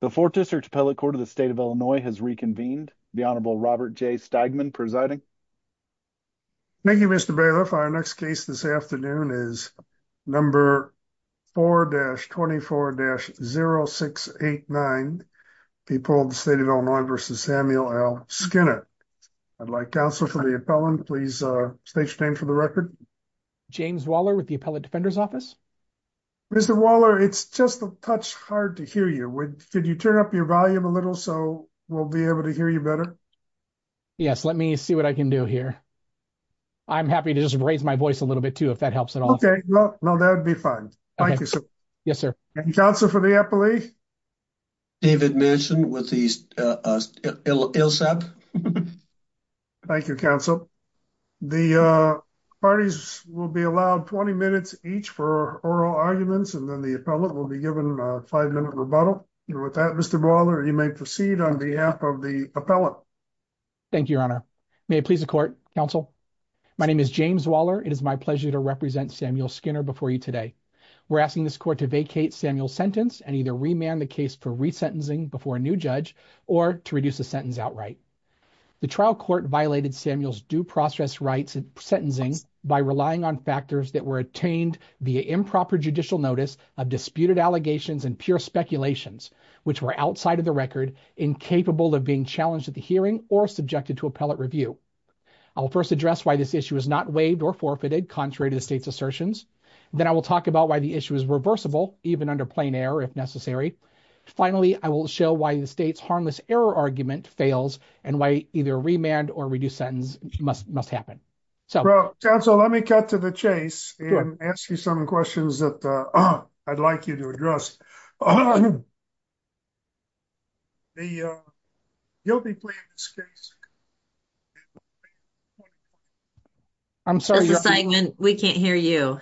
The 4th District Appellate Court of the State of Illinois has reconvened. The Honorable Robert J. Stigman presiding. Thank you, Mr. Bailiff. Our next case this afternoon is number 4-24-0689, people of the State of Illinois v. Samuel L. Skinner. I'd like counsel for the appellant. Please state your name for the record. James Waller with the Appellate Defender's Office. Mr. Waller, it's just a touch hard to hear you. Could you turn up your volume a little so we'll be able to hear you better? Yes, let me see what I can do here. I'm happy to just raise my voice a little bit, too, if that helps at all. Okay, well, that would be fine. Thank you, sir. Yes, sir. Counsel for the appellee. David Manchin with the ILSEP. Thank you, counsel. The parties will be allowed 20 minutes each for oral arguments, and then the appellant will be given a five-minute rebuttal. With that, Mr. Waller, you may proceed on behalf of the appellant. Thank you, Your Honor. May it please the court, counsel? My name is James Waller. It is my pleasure to represent Samuel Skinner before you today. We're asking this court to vacate Samuel's sentence and either remand the case for resentencing before a new judge or to reduce the sentence outright. The trial court violated Samuel's due process rights and sentencing by relying on factors that were attained via improper judicial notice of disputed allegations and pure speculations, which were outside of the record, incapable of being challenged at the hearing or subjected to appellate review. I'll first address why this issue is not waived or forfeited, contrary to the state's assertions. Then I will talk about why the issue is reversible, even under plain error, if necessary. Finally, I will show why the state's harmless error argument fails and why either remand or reduced sentence must happen. Counsel, let me cut to the chase and ask you some questions that I'd like you to address. You'll be playing this case. I'm sorry, Your Honor. We can't hear you.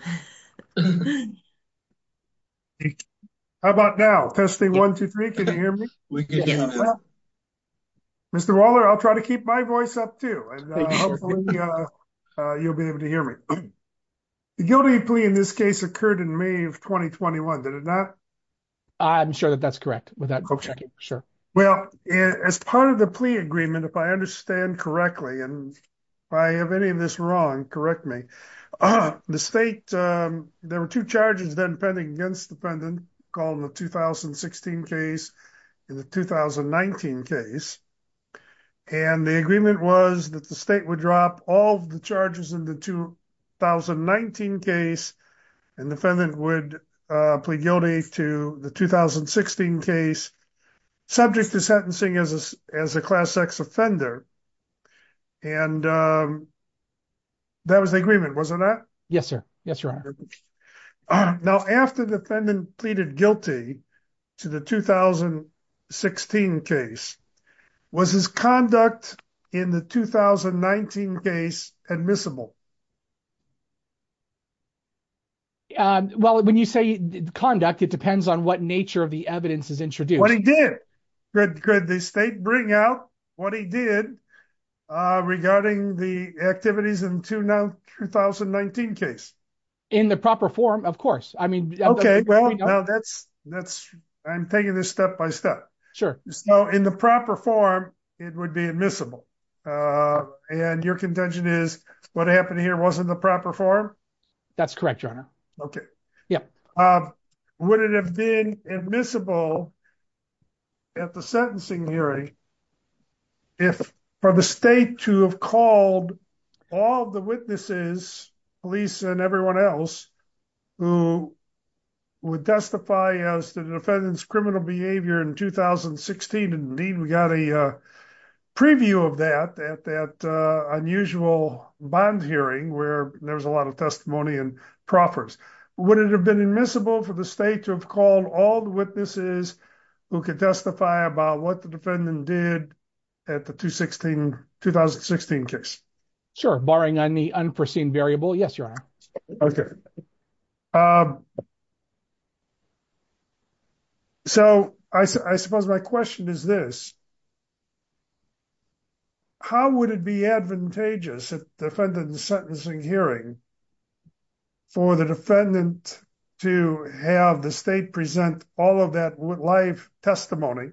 How about now? Testing 1, 2, 3. Can you hear me? Mr. Waller, I'll try to keep my voice up, too. You'll be able to hear me. The guilty plea in this case occurred in May of 2021, did it not? I'm sure that that's correct. Well, as part of the plea agreement, if I understand correctly, and if I have any of called the 2016 case and the 2019 case, and the agreement was that the state would drop all of the charges in the 2019 case, and the defendant would plead guilty to the 2016 case, subject to sentencing as a class X offender, and that was the agreement, was it not? Yes, sir. Yes, Your Honor. All right. Now, after the defendant pleaded guilty to the 2016 case, was his conduct in the 2019 case admissible? Well, when you say conduct, it depends on what nature of the evidence is introduced. What he did. Could the state bring out what he did regarding the activities in the 2019 case? In the proper form, of course. I'm taking this step by step. In the proper form, it would be admissible. And your contention is, what happened here wasn't the proper form? That's correct, Your Honor. Okay. Would it have been admissible at the sentencing hearing, if for the state to have called all the witnesses, police and everyone else, who would testify as to the defendant's criminal behavior in 2016, and we got a preview of that at that unusual bond hearing, where there was a lot of testimony and proffers. Would it have been admissible for the state to have called all the witnesses who could testify about what the defendant did at the 2016 case? Sure. Barring any unforeseen variable. Yes, Your Honor. Okay. So, I suppose my question is this. How would it be advantageous at the defendant's sentencing hearing for the defendant to have the state present all of that live testimony,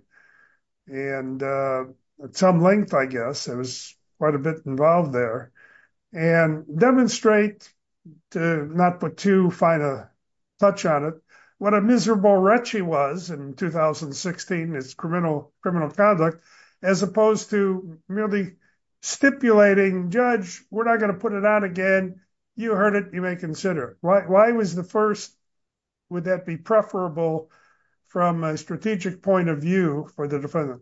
and at some length, I guess, it was quite a bit involved there, and demonstrate, to not put too fine a touch on it, what a miserable wretch he was in 2016, his criminal conduct, as opposed to merely stipulating, Judge, we're not going to put it out again, you heard it, you may consider it. Why was the first, would that be preferable from a strategic point of view for the defendant?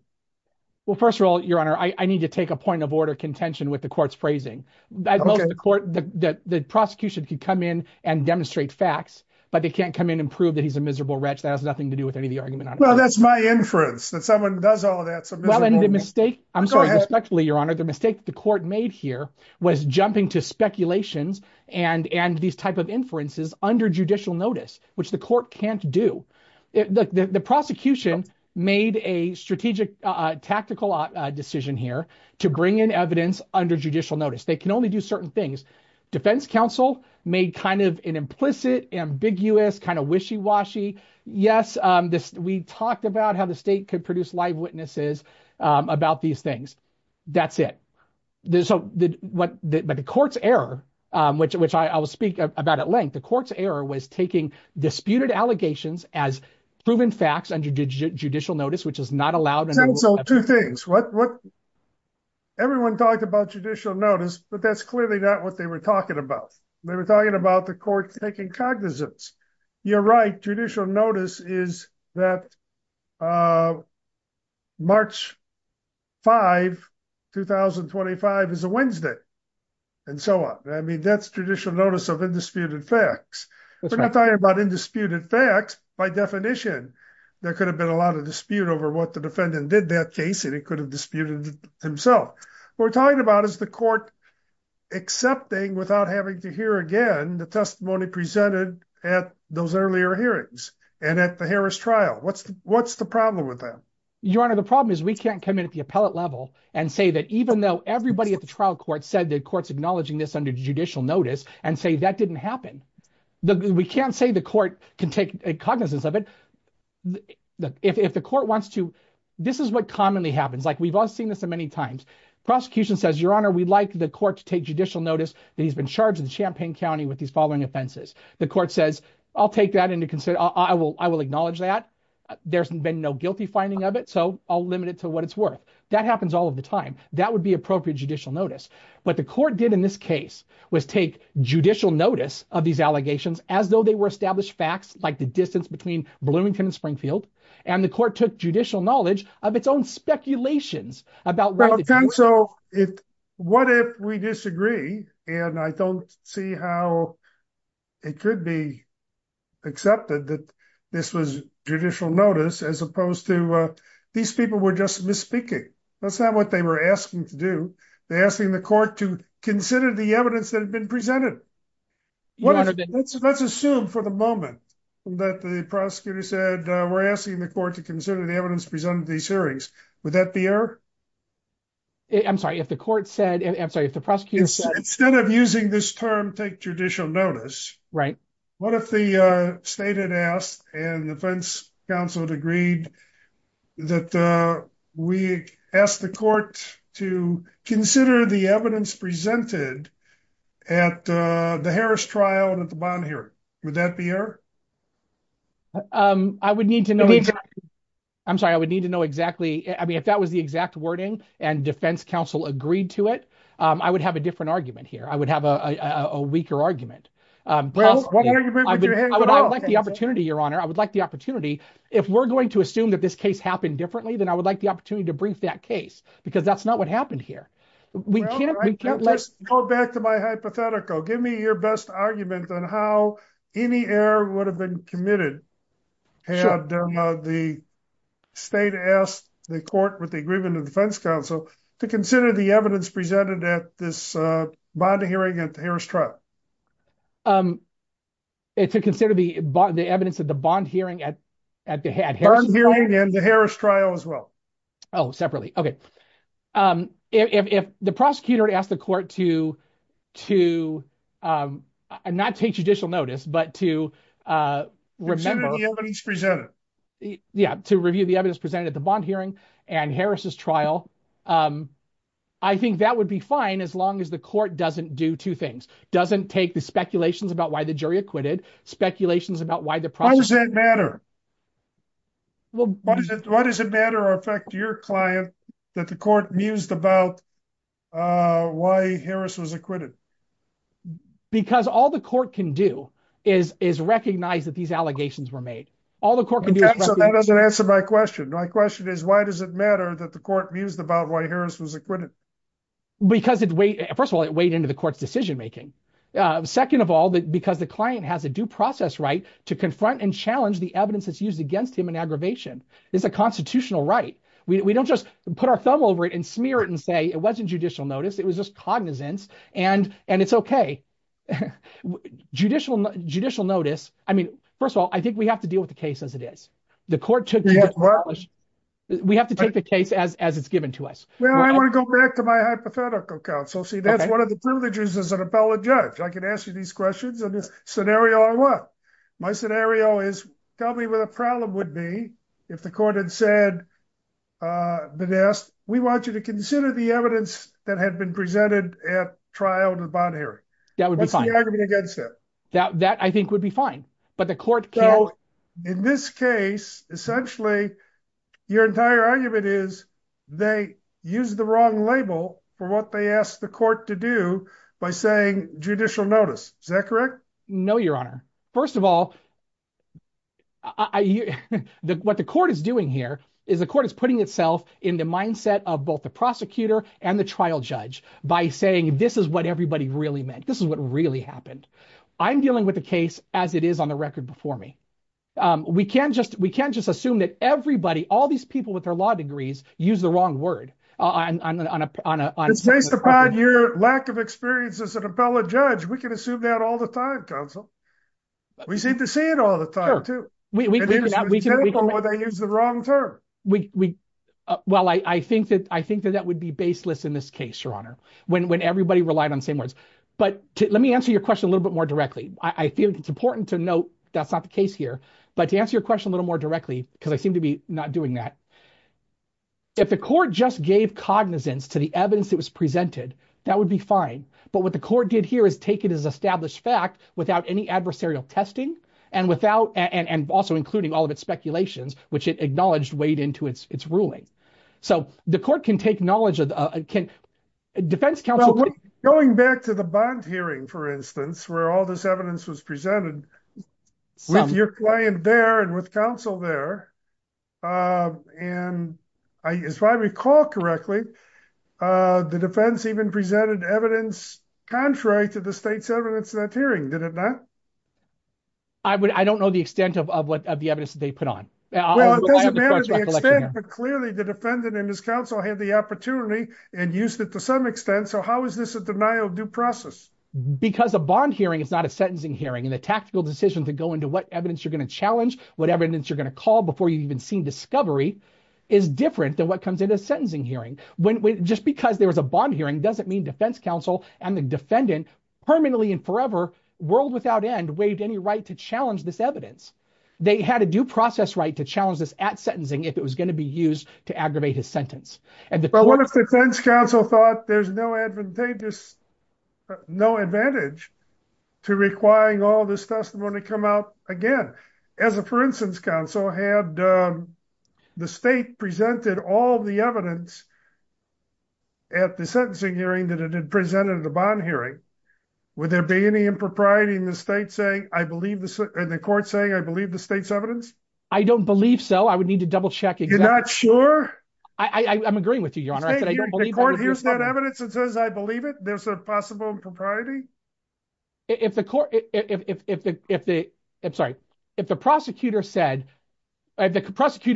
Well, first of all, Your Honor, I need to take a point of order contention with the court's phrasing. The prosecution could come in and demonstrate facts, but they can't come in and prove that he's a miserable wretch. That has nothing to do with any of the argument on it. Well, that's my inference, that someone does all of that, it's a miserable wretch. I'm sorry, respectfully, Your Honor, the mistake the court made here was jumping to speculations and these type of inferences under judicial notice, which the court can't do. The prosecution made a strategic tactical decision here to bring in evidence under judicial notice. They can only do certain things. Defense counsel made an implicit, ambiguous, wishy-washy, yes, we talked about how the state could produce live witnesses about these things. That's it. The court's error, which I will speak about at length, the court's error was taking disputed allegations as proven facts under judicial notice, which is not allowed. Two things. Everyone talked about judicial notice, but that's clearly not what they were talking about. They were talking about the court taking cognizance. You're right, judicial notice is that March 5, 2025 is a Wednesday and so on. I mean, that's judicial notice of indisputed facts. We're not talking about indisputed facts by definition. There could have been a lot of dispute over what the defendant did in that case and he could have disputed himself. What we're talking about is the court accepting without having to hear again the testimony presented at those earlier hearings and at the Harris trial. What's the problem with that? Your Honor, the problem is we can't come in at the appellate level and say that even though everybody at the trial court said the court's acknowledging this under judicial notice and say that didn't happen. We can't say the court can take a cognizance of it. If the court wants to, this is what commonly happens. We've all seen this many times. Prosecution says, Your Honor, we'd like the court to take judicial notice that he's been charged in Champaign County with these following offenses. The court says, I'll take that into consideration. I will acknowledge that. There's been no guilty finding of it, so I'll limit it to what it's worth. That happens all of the time. That would be appropriate judicial notice. What the court did in this case was take judicial notice of these allegations as though they were established facts like the distance between Bloomington and Springfield and the court took judicial knowledge of its own speculations. What if we disagree and I don't see how it could be accepted that this was judicial notice as opposed to these people were just misspeaking. That's not what they were asking to do. They're asking the court to consider the evidence that had been presented. Let's assume for the moment that the prosecutor said we're asking the court to consider the evidence presented in these hearings. Would that be error? I'm sorry, if the court said, I'm sorry, if the prosecutor said... Instead of using this term, take judicial notice. Right. What if the state had asked and the defense counsel had agreed that we ask the court to consider the evidence presented at the Harris trial and at the bond hearing. Would that be error? I would need to know exactly. I'm sorry, I would need to know exactly. I mean, if that was the exact wording and defense counsel agreed to it, I would have a different argument here. I would have a weaker argument. Well, what are you doing with your head? I would like the opportunity, your honor. I would like the opportunity. If we're going to assume that this case happened differently, then I would like the opportunity to brief that case because that's not what happened here. Well, I can't just go back to my hypothetical. Give me your best argument on how any error would have been committed had the state asked the court with the agreement of defense counsel to consider the evidence presented at this bond hearing at the Harris trial. To consider the evidence at the bond hearing at the Harris trial? Bond hearing and the Harris trial as well. Oh, separately. Okay. If the prosecutor asked the court to not take judicial notice, but to remember... Yeah, to review the evidence presented at the bond hearing and Harris's trial. I think that would be fine as long as the court doesn't do two things. Doesn't take the speculations about why the jury acquitted, speculations about why the process... Why does that matter? Why does it matter or affect your client that the court mused about why Harris was acquitted? Because all the court can do is recognize that these allegations were made. Okay, so that doesn't answer my question. My question is, why does it matter that the court mused about why Harris was acquitted? Because, first of all, it weighed into the court's decision making. Second of all, because the client has a due process right to confront and challenge the evidence that's used against him in aggravation. It's a constitutional right. We don't just put our thumb over it and smear it and say it wasn't judicial notice, it was just cognizance. And it's okay. Judicial notice, I mean, first of all, I think we have to deal with the case as it is. The court took... We have to take the case as it's given to us. Well, I want to go back to my hypothetical counsel. See, that's one of the privileges as an appellate judge. I can ask you these questions and this scenario on what? My scenario is, tell me what the problem would be if the court had said, Vanessa, we want you to consider the evidence that had been presented at trial to the bond hearing. That would be fine. What's the argument against that? That I think would be fine, but the court can't... So, in this case, essentially, your entire argument is they used the wrong label for what they asked the court to do by saying judicial notice. Is that correct? No, Your Honor. First of all, what the court is doing here is the court is putting itself in the mindset of both the prosecutor and the trial judge by saying, this is what everybody really meant. This is what really happened. I'm dealing with the case as it is on the record before me. We can't just assume that everybody, all these people with their law degrees, use the wrong word. Based upon your lack of experience as an appellate judge, we can assume that all the time, counsel. We seem to say it all the time, too. Sure. We can... And it's just terrible when they use the wrong term. Well, I think that that would be baseless in this case, Your Honor, when everybody relied on the same words. But let me answer your question a little bit more directly. I feel it's important to note that's not the case here. But to answer your question a little more directly, because I seem to be not doing that, if the court just gave cognizance to evidence that was presented, that would be fine. But what the court did here is take it as established fact without any adversarial testing, and also including all of its speculations, which it acknowledged weighed into its ruling. So the court can take knowledge... Going back to the bond hearing, for instance, where all this evidence was presented with your client there and with counsel there, and if I recall correctly, the defense even presented evidence contrary to the state's evidence in that hearing, did it not? I don't know the extent of the evidence that they put on. Well, it doesn't matter the extent, but clearly the defendant and his counsel had the opportunity and used it to some extent. So how is this a denial of due process? Because a bond hearing is not a sentencing hearing, and the tactical decision to go into what evidence you're going to challenge, what evidence you're going to call before you've even seen discovery, is different than what comes in a sentencing hearing. Just because there was a bond hearing doesn't mean defense counsel and the defendant permanently and forever, world without end, waived any right to challenge this evidence. They had a due process right to challenge this at sentencing if it was going to be used to aggravate his sentence. But what if the defense counsel thought there's no advantage to requiring all this testimony come out? Again, as a for instance, counsel had the state presented all the evidence at the sentencing hearing that it had presented at the bond hearing, would there be any impropriety in the state saying, I believe the court saying, I believe the state's evidence? I don't believe so. I would need to double check. You're not sure? I'm agreeing with you, your honor. Here's that evidence that says, I believe it. There's a possible impropriety. If the prosecutor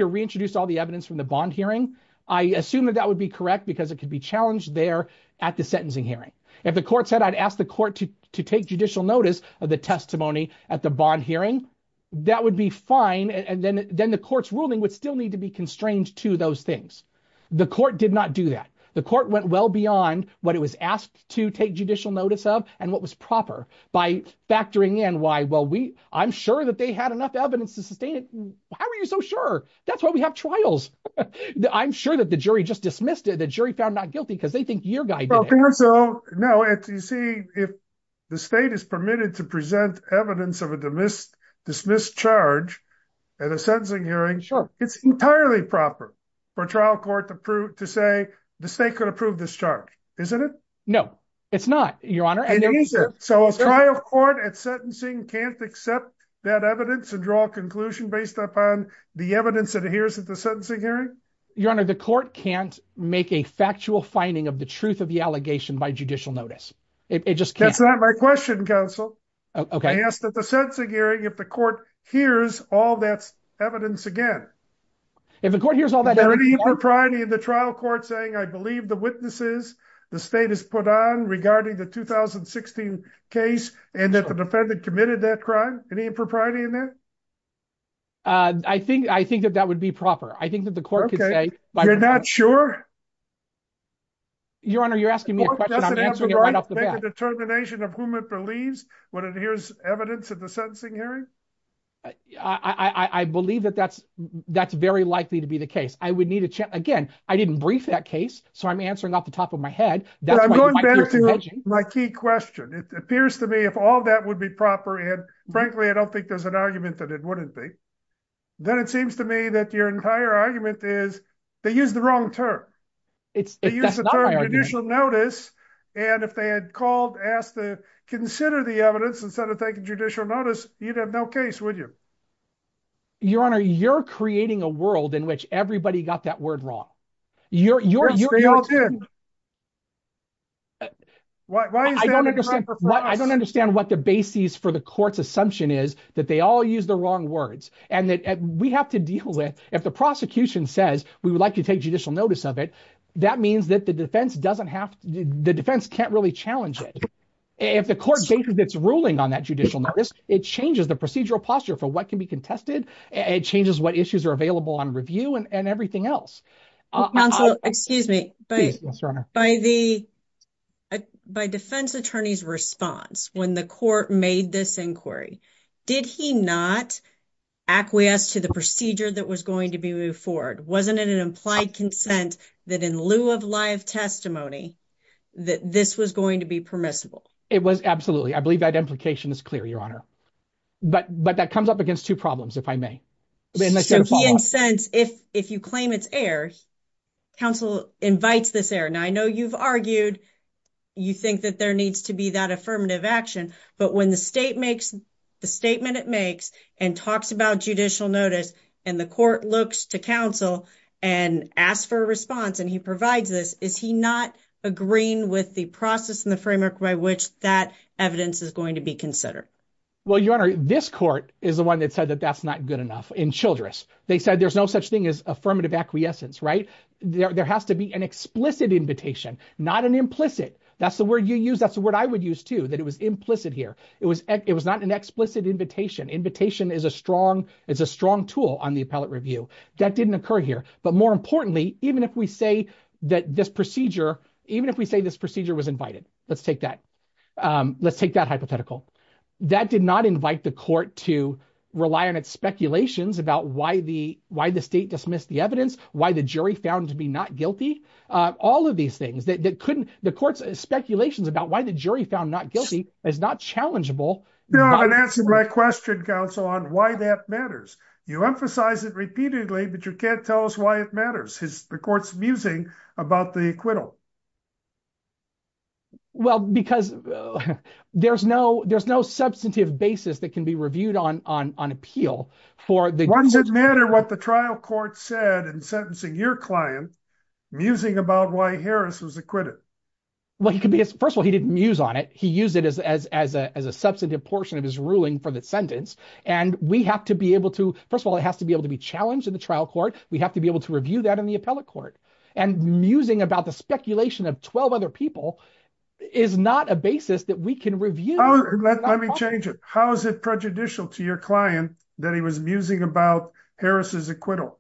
reintroduced all the evidence from the bond hearing, I assume that that would be correct because it could be challenged there at the sentencing hearing. If the court said, I'd ask the court to take judicial notice of the testimony at the bond hearing, that would be fine. And then the court's ruling would still need to be constrained to those things. The court did not do that. The court went well beyond what it was asked to take judicial notice of and what was proper by factoring in why, well, I'm sure that they had enough evidence to sustain it. How are you so sure? That's why we have trials. I'm sure that the jury just dismissed it. The jury found not guilty because they think your guy did it. No, you see, if the state is permitted to present evidence of a dismissed charge at a sentencing hearing, it's entirely proper for trial court to say the state could approve this charge, isn't it? No, it's not, Your Honor. So a trial court at sentencing can't accept that evidence and draw a conclusion based upon the evidence that it hears at the sentencing hearing? Your Honor, the court can't make a factual finding of the truth of the allegation by judicial notice. It just can't. That's not my question, counsel. Okay. I asked at the sentencing hearing if the court hears all that evidence again. If the court hears all that evidence, Your Honor. Any impropriety in the trial court saying, I believe the witnesses the state has put on regarding the 2016 case and that the defendant committed that crime? Any impropriety in that? Uh, I think I think that that would be proper. I think that the court could say. You're not sure? Your Honor, you're asking me a question. I'm answering it right off the bat. Does it have the right to make a determination of whom it believes when it hears evidence at sentencing hearing? I believe that that's that's very likely to be the case. I would need to check again. I didn't brief that case, so I'm answering off the top of my head. That's my key question. It appears to me if all that would be proper. And frankly, I don't think there's an argument that it wouldn't be. Then it seems to me that your entire argument is they use the wrong term. It's judicial notice. And if they had called, asked to consider the evidence instead of taking judicial notice, you'd have no case, would you? Your Honor, you're creating a world in which everybody got that word wrong. You're you're you're all good. Why? I don't understand. I don't understand what the basis for the courts assumption is that they all use the wrong words and that we have to deal with. If the prosecution says we would like to take judicial notice of it, that means that the defense doesn't have. The defense can't really challenge it. If the court changes its ruling on that judicial notice, it changes the procedural posture for what can be contested. It changes what issues are available on review and everything else. Excuse me, but by the by defense attorney's response when the court made this inquiry, did he not acquiesce to the procedure that was going to be moved forward? Wasn't it an consent that in lieu of live testimony that this was going to be permissible? It was. Absolutely. I believe that implication is clear, Your Honor. But but that comes up against two problems, if I may. If if you claim it's air, counsel invites this air. Now, I know you've argued you think that there needs to be that affirmative action. But when the state makes the statement it makes and talks about judicial notice and the court looks to counsel and asks for a response and he provides this, is he not agreeing with the process and the framework by which that evidence is going to be considered? Well, Your Honor, this court is the one that said that that's not good enough in Childress. They said there's no such thing as affirmative acquiescence, right? There has to be an explicit invitation, not an implicit. That's the word you use. That's it's a strong tool on the appellate review that didn't occur here. But more importantly, even if we say that this procedure, even if we say this procedure was invited, let's take that. Let's take that hypothetical. That did not invite the court to rely on its speculations about why the why the state dismissed the evidence, why the jury found to be not guilty. All of these things that couldn't the court's speculations about why the jury found not guilty is not challengeable. And that's my question, counsel, on why that matters. You emphasize it repeatedly, but you can't tell us why it matters. Is the court's musing about the acquittal? Well, because there's no there's no substantive basis that can be reviewed on on on appeal for the matter, what the trial court said in sentencing your client, musing about why Harris was acquitted. Well, he could be as first of all, didn't use on it. He used it as as as a substantive portion of his ruling for the sentence. And we have to be able to first of all, it has to be able to be challenged in the trial court. We have to be able to review that in the appellate court and musing about the speculation of 12 other people is not a basis that we can review. Let me change it. How is it prejudicial to your client that he was musing about Harris's acquittal?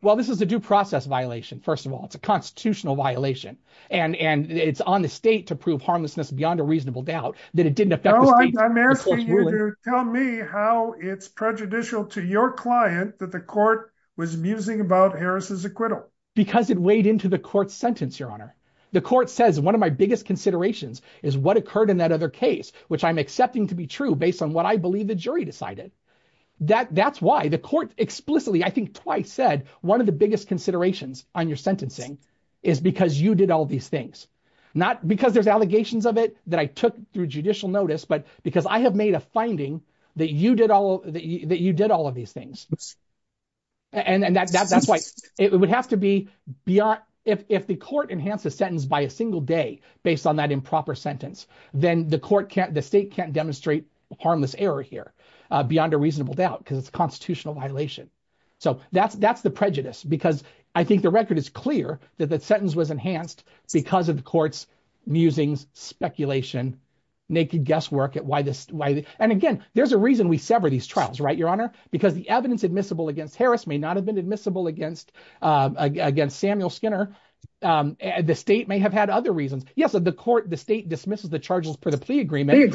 Well, this is a due process violation. First of all, it's a constitutional violation. And it's on the state to prove harmlessness beyond a reasonable doubt that it didn't affect. I'm asking you to tell me how it's prejudicial to your client that the court was musing about Harris's acquittal because it weighed into the court sentence. Your honor, the court says one of my biggest considerations is what occurred in that other case, which I'm accepting to be true based on what I believe the jury decided that that's explicitly. I think twice said one of the biggest considerations on your sentencing is because you did all these things, not because there's allegations of it that I took through judicial notice, but because I have made a finding that you did all of these things. And that's why it would have to be beyond if the court enhanced the sentence by a single day based on that improper sentence, then the court can't, the state can't demonstrate harmless error here beyond a reasonable doubt because it's a constitutional violation. So that's the prejudice because I think the record is clear that that sentence was enhanced because of the court's musings, speculation, naked guesswork. And again, there's a reason we sever these trials, right, your honor, because the evidence admissible against Harris may not have been admissible against Samuel Skinner. The state may have had other reasons. Yes, the court, dismisses the charges for the plea agreement,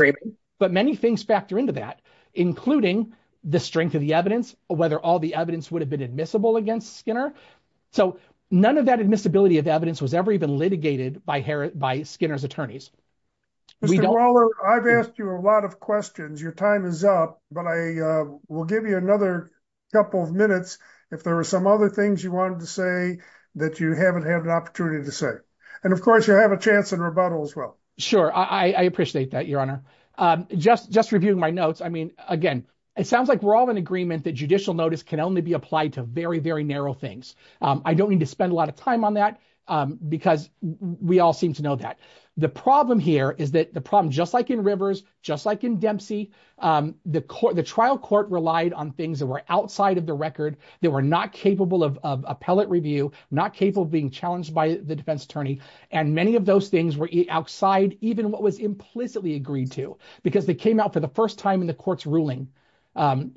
but many things factor into that, including the strength of the evidence, whether all the evidence would have been admissible against Skinner. So none of that admissibility of evidence was ever even litigated by Harris, by Skinner's attorneys. I've asked you a lot of questions. Your time is up, but I will give you another couple of minutes. If there were some other things you wanted to say that you haven't opportunity to say, and of course you have a chance in rebuttal as well. Sure. I appreciate that, your honor. Just reviewing my notes. I mean, again, it sounds like we're all in agreement that judicial notice can only be applied to very, very narrow things. I don't need to spend a lot of time on that because we all seem to know that the problem here is that the problem, just like in Rivers, just like in Dempsey, the trial court relied on things that were outside of the record that were not capable of appellate review, not capable of being challenged by the defense attorney. And many of those things were outside even what was implicitly agreed to because they came out for the first time in the court's ruling.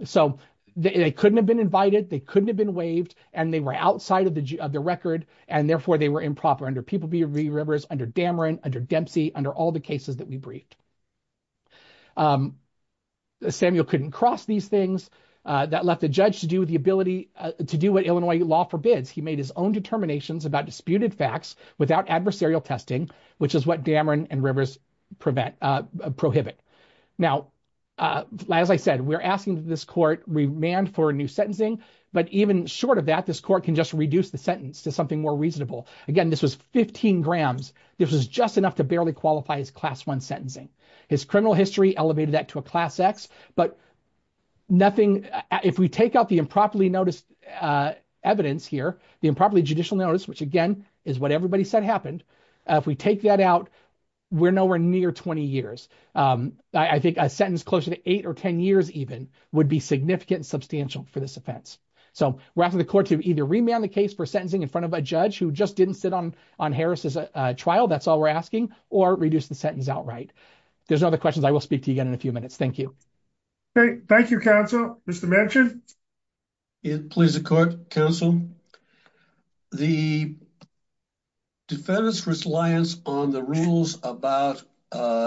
So they couldn't have been invited. They couldn't have been waived and they were outside of the record. And therefore they were improper under People v. Rivers, under Dameron, under Dempsey, under all the cases that we briefed. Samuel couldn't cross these things that left the judge to do with the ability to do what Illinois law forbids. He made his own determinations about disputed facts without adversarial testing, which is what Dameron and Rivers prohibit. Now, as I said, we're asking this court remand for a new sentencing, but even short of that, this court can just reduce the sentence to something more reasonable. Again, this was 15 grams. This was just enough to barely qualify as class one sentencing. His criminal history elevated that to a class X. But if we take out the improperly noticed evidence here, the improperly judicial notice, which again is what everybody said happened, if we take that out, we're nowhere near 20 years. I think a sentence closer to eight or 10 years even would be significant and substantial for this offense. So we're asking the court to either remand the case for sentencing in front of a judge who just didn't sit on Harris's trial, that's all we're asking, or reduce the sentence outright. If there's other questions, I will speak to you again in a few minutes. Thank you. Okay. Thank you, counsel. Mr. Manchin? Please, the court, counsel. The defendant's reliance on the rules about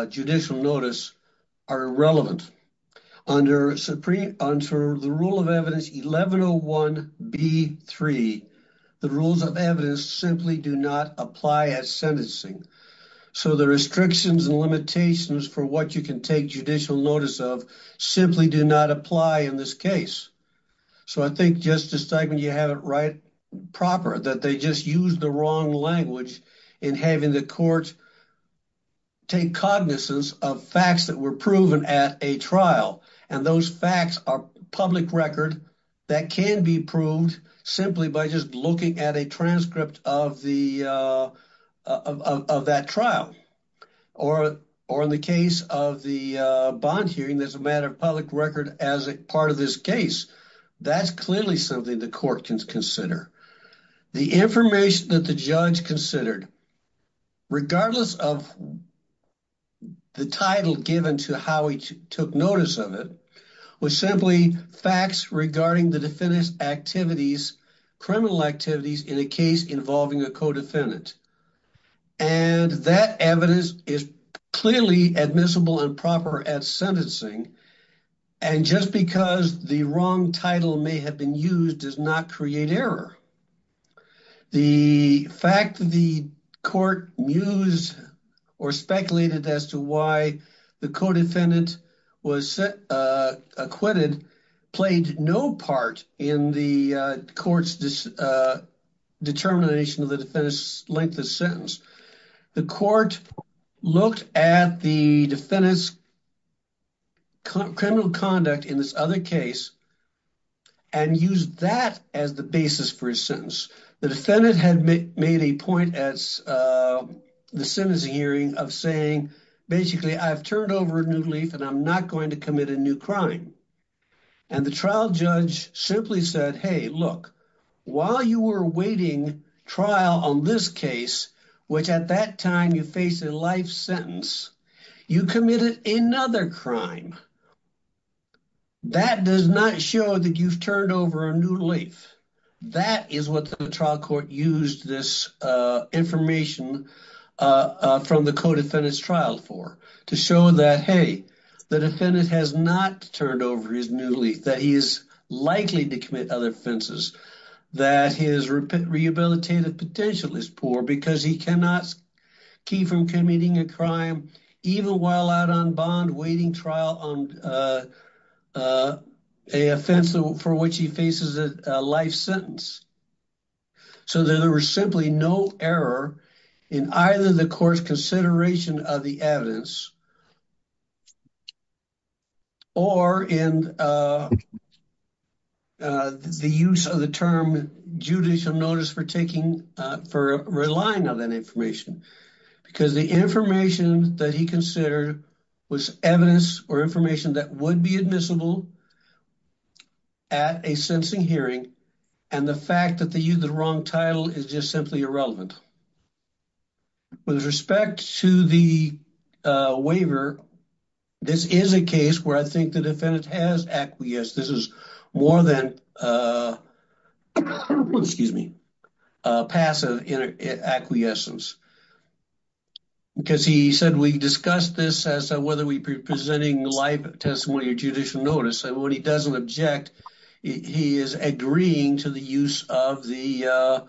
judicial notice are irrelevant. Under the rule of evidence 1101B3, the rules of evidence simply do not apply at sentencing. So the restrictions and limitations for what you can take judicial notice of simply do not apply in this case. So I think Justice Steigman, you have it right proper that they just used the wrong language in having the court take cognizance of facts that were proven at a trial. And those facts are public record that can be proved simply by just looking at a transcript of that trial. Or in the case of the bond hearing, there's a matter of public record as a part of this case. That's clearly something the court can consider. The information that the judge considered, regardless of the title given to how he took notice of it, was simply facts regarding the defendant's activities, criminal activities in a case involving a co-defendant. And that evidence is clearly admissible and proper at sentencing. And just because the wrong title may have been used does not create error. The fact that the court used or speculated as to why the co-defendant was acquitted played no part in the court's determination of the defendant's length of sentence. The court looked at the defendant's criminal conduct in this other case and used that as the basis for his sentence. The defendant had made a point at the sentencing hearing of saying, basically, I've turned over a new leaf and I'm not going to commit a new crime. And the trial judge simply said, hey, look, while you were awaiting trial on this case, which at that time you faced a life sentence, you committed another crime. That does not show that you've turned over a new leaf. That is what the trial court used this information from the co-defendant's trial for, to show that, hey, the defendant has not turned over his new leaf, that he is likely to commit other offenses, that his rehabilitative potential is poor because he cannot keep from committing a crime, even while out on bond, waiting trial on a offense for which he faces a life sentence. So there was simply no error in either the court's consideration of the evidence or in the use of the term judicial notice for taking, for relying on that information, because the information that he considered was evidence or information that would be admissible at a sentencing hearing, and the fact that they used the wrong title is just simply irrelevant. With respect to the waiver, this is a case where I think the defendant has acquiesced. This is more than, excuse me, passive acquiescence, because he said, we discussed this as to whether we were presenting live testimony or judicial notice, and when he doesn't object, he is agreeing to the use of the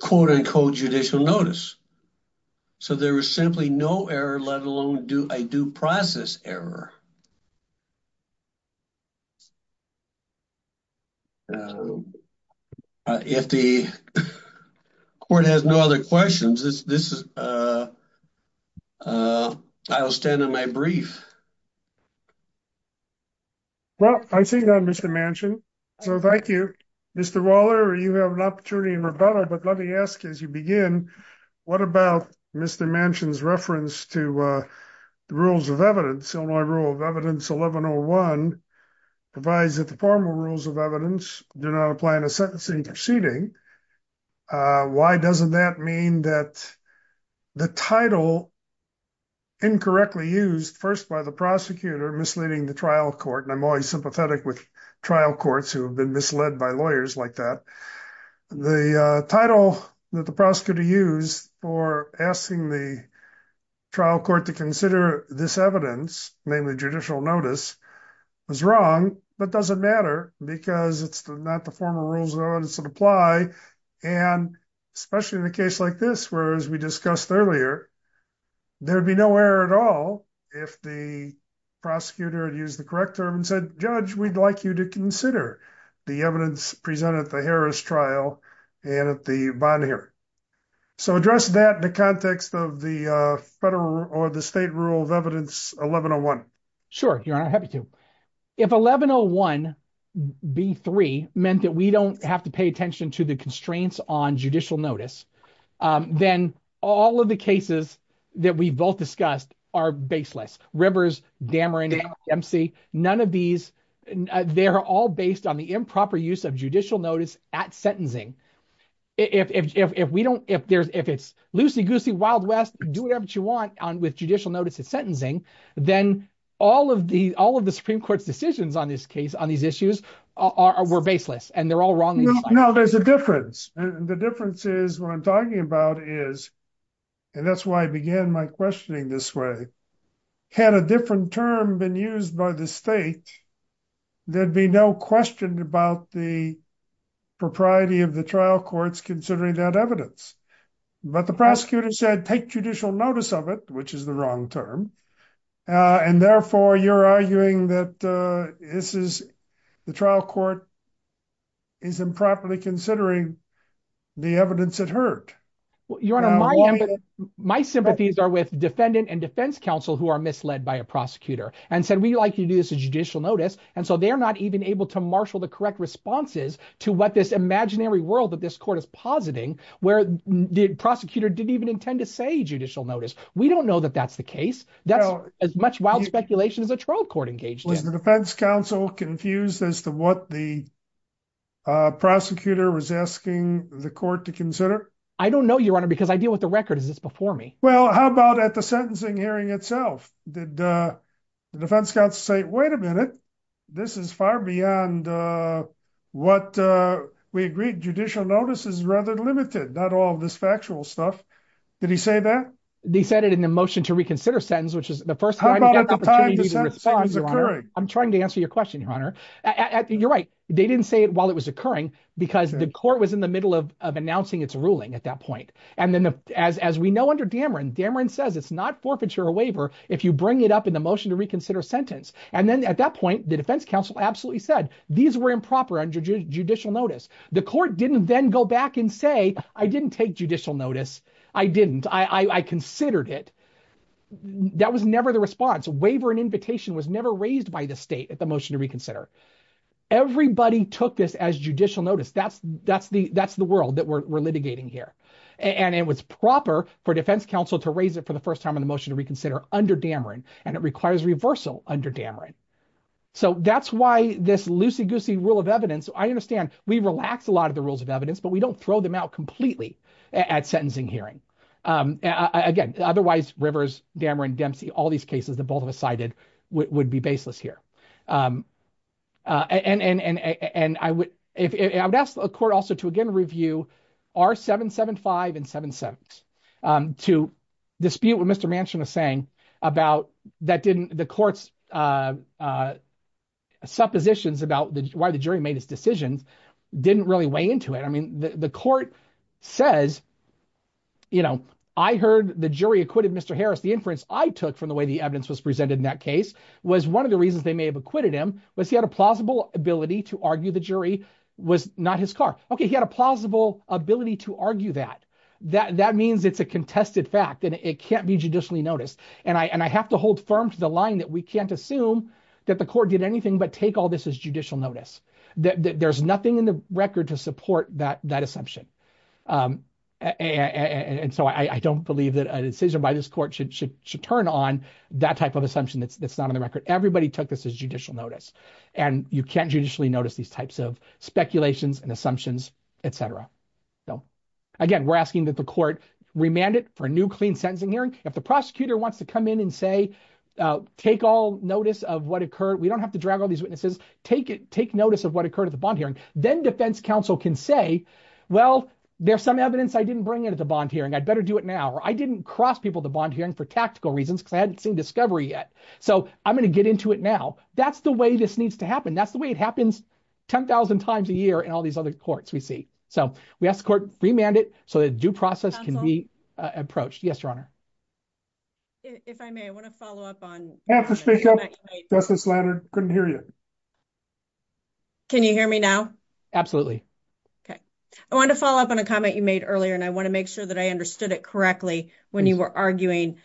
quote-unquote judicial notice. So there was simply no error, let alone a due process error. If the court has no other questions, I will stand on my brief. Well, I see that, Mr. Manchin, so thank you. Mr. Waller, you have an opportunity to rebuttal, but let me ask as you begin, what about Mr. Manchin's reference to the rules of evidence, rule of evidence 1101 provides that the formal rules of evidence do not apply in a sentencing proceeding. Why doesn't that mean that the title incorrectly used, first by the prosecutor misleading the trial court, and I'm always sympathetic with trial courts who have been misled by lawyers like that, the title that the prosecutor used for asking the trial court to this evidence, namely judicial notice, was wrong, but doesn't matter because it's not the formal rules of evidence that apply, and especially in a case like this, where, as we discussed earlier, there'd be no error at all if the prosecutor had used the correct term and said, judge, we'd like you to consider the evidence presented at the Harris trial and at the bond hearing. So address that in the context of the federal or the state rule of evidence 1101. Sure, your honor, happy to. If 1101B3 meant that we don't have to pay attention to the constraints on judicial notice, then all of the cases that we've both discussed are baseless, Rivers, Dameron, MC, none of these, they're all based on the improper use of judicial notice at sentencing. If it's loosey-goosey, wild west, do whatever you want with judicial notice at sentencing, then all of the Supreme Court's decisions on this case, on these issues, were baseless, and they're all wrong. No, there's a difference, and the difference is, what I'm talking about is, and that's why I began my questioning this way, had a different term been by the state, there'd be no question about the propriety of the trial courts considering that evidence. But the prosecutor said, take judicial notice of it, which is the wrong term, and therefore you're arguing that this is, the trial court is improperly considering the evidence it heard. Your honor, my sympathies are with defendant and defense counsel who are likely to do this as judicial notice, and so they're not even able to marshal the correct responses to what this imaginary world that this court is positing, where the prosecutor didn't even intend to say judicial notice. We don't know that that's the case. That's as much wild speculation as a trial court engaged in. Was the defense counsel confused as to what the prosecutor was asking the court to consider? I don't know, your honor, because I deal with the Wait a minute. This is far beyond what we agreed judicial notice is rather limited, not all of this factual stuff. Did he say that? They said it in the motion to reconsider sentence, which is the first time. I'm trying to answer your question, your honor. You're right. They didn't say it while it was occurring because the court was in the middle of announcing its ruling at that point, and then as we know under Dameron, Dameron says it's not forfeiture or waiver if you bring it up in the motion to reconsider sentence, and then at that point, the defense counsel absolutely said these were improper under judicial notice. The court didn't then go back and say, I didn't take judicial notice. I didn't. I considered it. That was never the response. Waiver and invitation was never raised by the state at the motion to reconsider. Everybody took this as judicial notice. That's the world that we're litigating here, and it was proper for defense counsel to raise it for the first time in the motion to reconsider under Dameron, and it requires reversal under Dameron. So that's why this loosey-goosey rule of evidence, I understand we relax a lot of the rules of evidence, but we don't throw them out completely at sentencing hearing. Again, otherwise Rivers, Dameron, Dempsey, all these cases that both of us cited would be baseless here. And I would ask the court also to again review R-775 and 7-7ths to dispute what Mr. Manchin was saying about the court's suppositions about why the jury made his decisions didn't really weigh into it. I mean, the court says, I heard the jury acquitted Mr. Harris. The inference I took from the way the evidence was presented in that case was one of the reasons they may have acquitted him was he plausible ability to argue the jury was not his car. Okay, he had a plausible ability to argue that. That means it's a contested fact and it can't be judicially noticed. And I have to hold firm to the line that we can't assume that the court did anything but take all this as judicial notice. There's nothing in the record to support that assumption. And so I don't believe that an incision by this court should turn on that type of assumption that's not on the record. Everybody took this as judicial notice and you can't judicially notice these types of speculations and assumptions, et cetera. So again, we're asking that the court remand it for a new clean sentencing hearing. If the prosecutor wants to come in and say, take all notice of what occurred. We don't have to drag all these witnesses. Take notice of what occurred at the bond hearing. Then defense counsel can say, well, there's some evidence I didn't bring it at the bond hearing. I'd better do it now. Or I didn't cross people at the bond hearing for tactical reasons because I hadn't seen discovery yet. So I'm going to get into it now. That's the way this needs to happen. That's the way it happens 10,000 times a year in all these other courts we see. So we ask the court remand it so that due process can be approached. Yes, Your Honor. If I may, I want to follow up on Justice Leonard. Couldn't hear you. Can you hear me now? Absolutely. Okay. I want to follow up on a comment you made earlier and I want to make sure that I understood it correctly when you were arguing.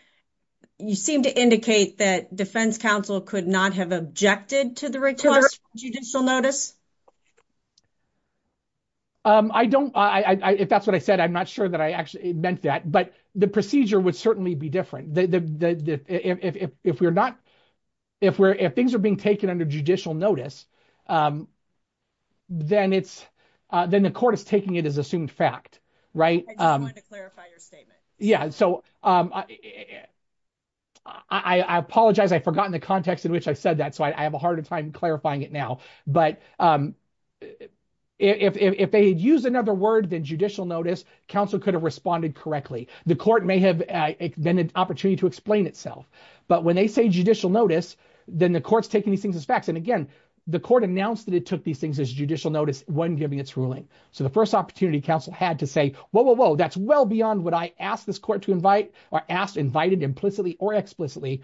You seem to indicate that defense counsel could not have objected to the request judicial notice. I don't, if that's what I said, I'm not sure that I actually meant that. But the procedure would certainly be different. If we're not, if things are being taken under judicial notice, then it's, then the court is taking it as assumed fact, right? I just wanted to clarify your statement. Yeah. So I apologize. I forgotten the context in which I said that. So I have a harder time clarifying it now. But if they had used another word than judicial notice, counsel could have responded correctly. The court may have been an opportunity to explain itself. But when they say judicial notice, then the court's taking these things as facts. And again, the court announced that it took these things as judicial notice when giving its ruling. So the first opportunity counsel had to say, whoa, whoa, whoa, that's well beyond what I asked this court to invite or asked, invited implicitly or explicitly.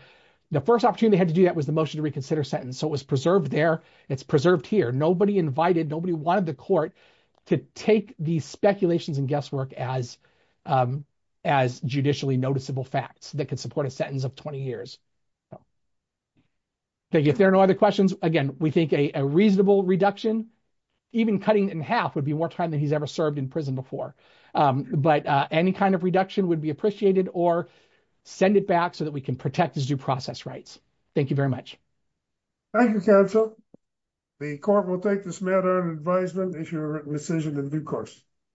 The first opportunity they had to do that was the motion to reconsider sentence. So it was preserved there. It's preserved here. Nobody invited, nobody wanted the court to take these speculations and guesswork as judicially noticeable facts that could support a sentence of 20 years. Thank you. If there are no other questions, again, we think a reasonable reduction, even cutting in half would be more time than he's ever served in prison before. But any kind of reduction would be appreciated or send it back so that we can protect his due process rights. Thank you very much. Thank you, counsel. The court will take this matter in advisement if you're in decision in due course.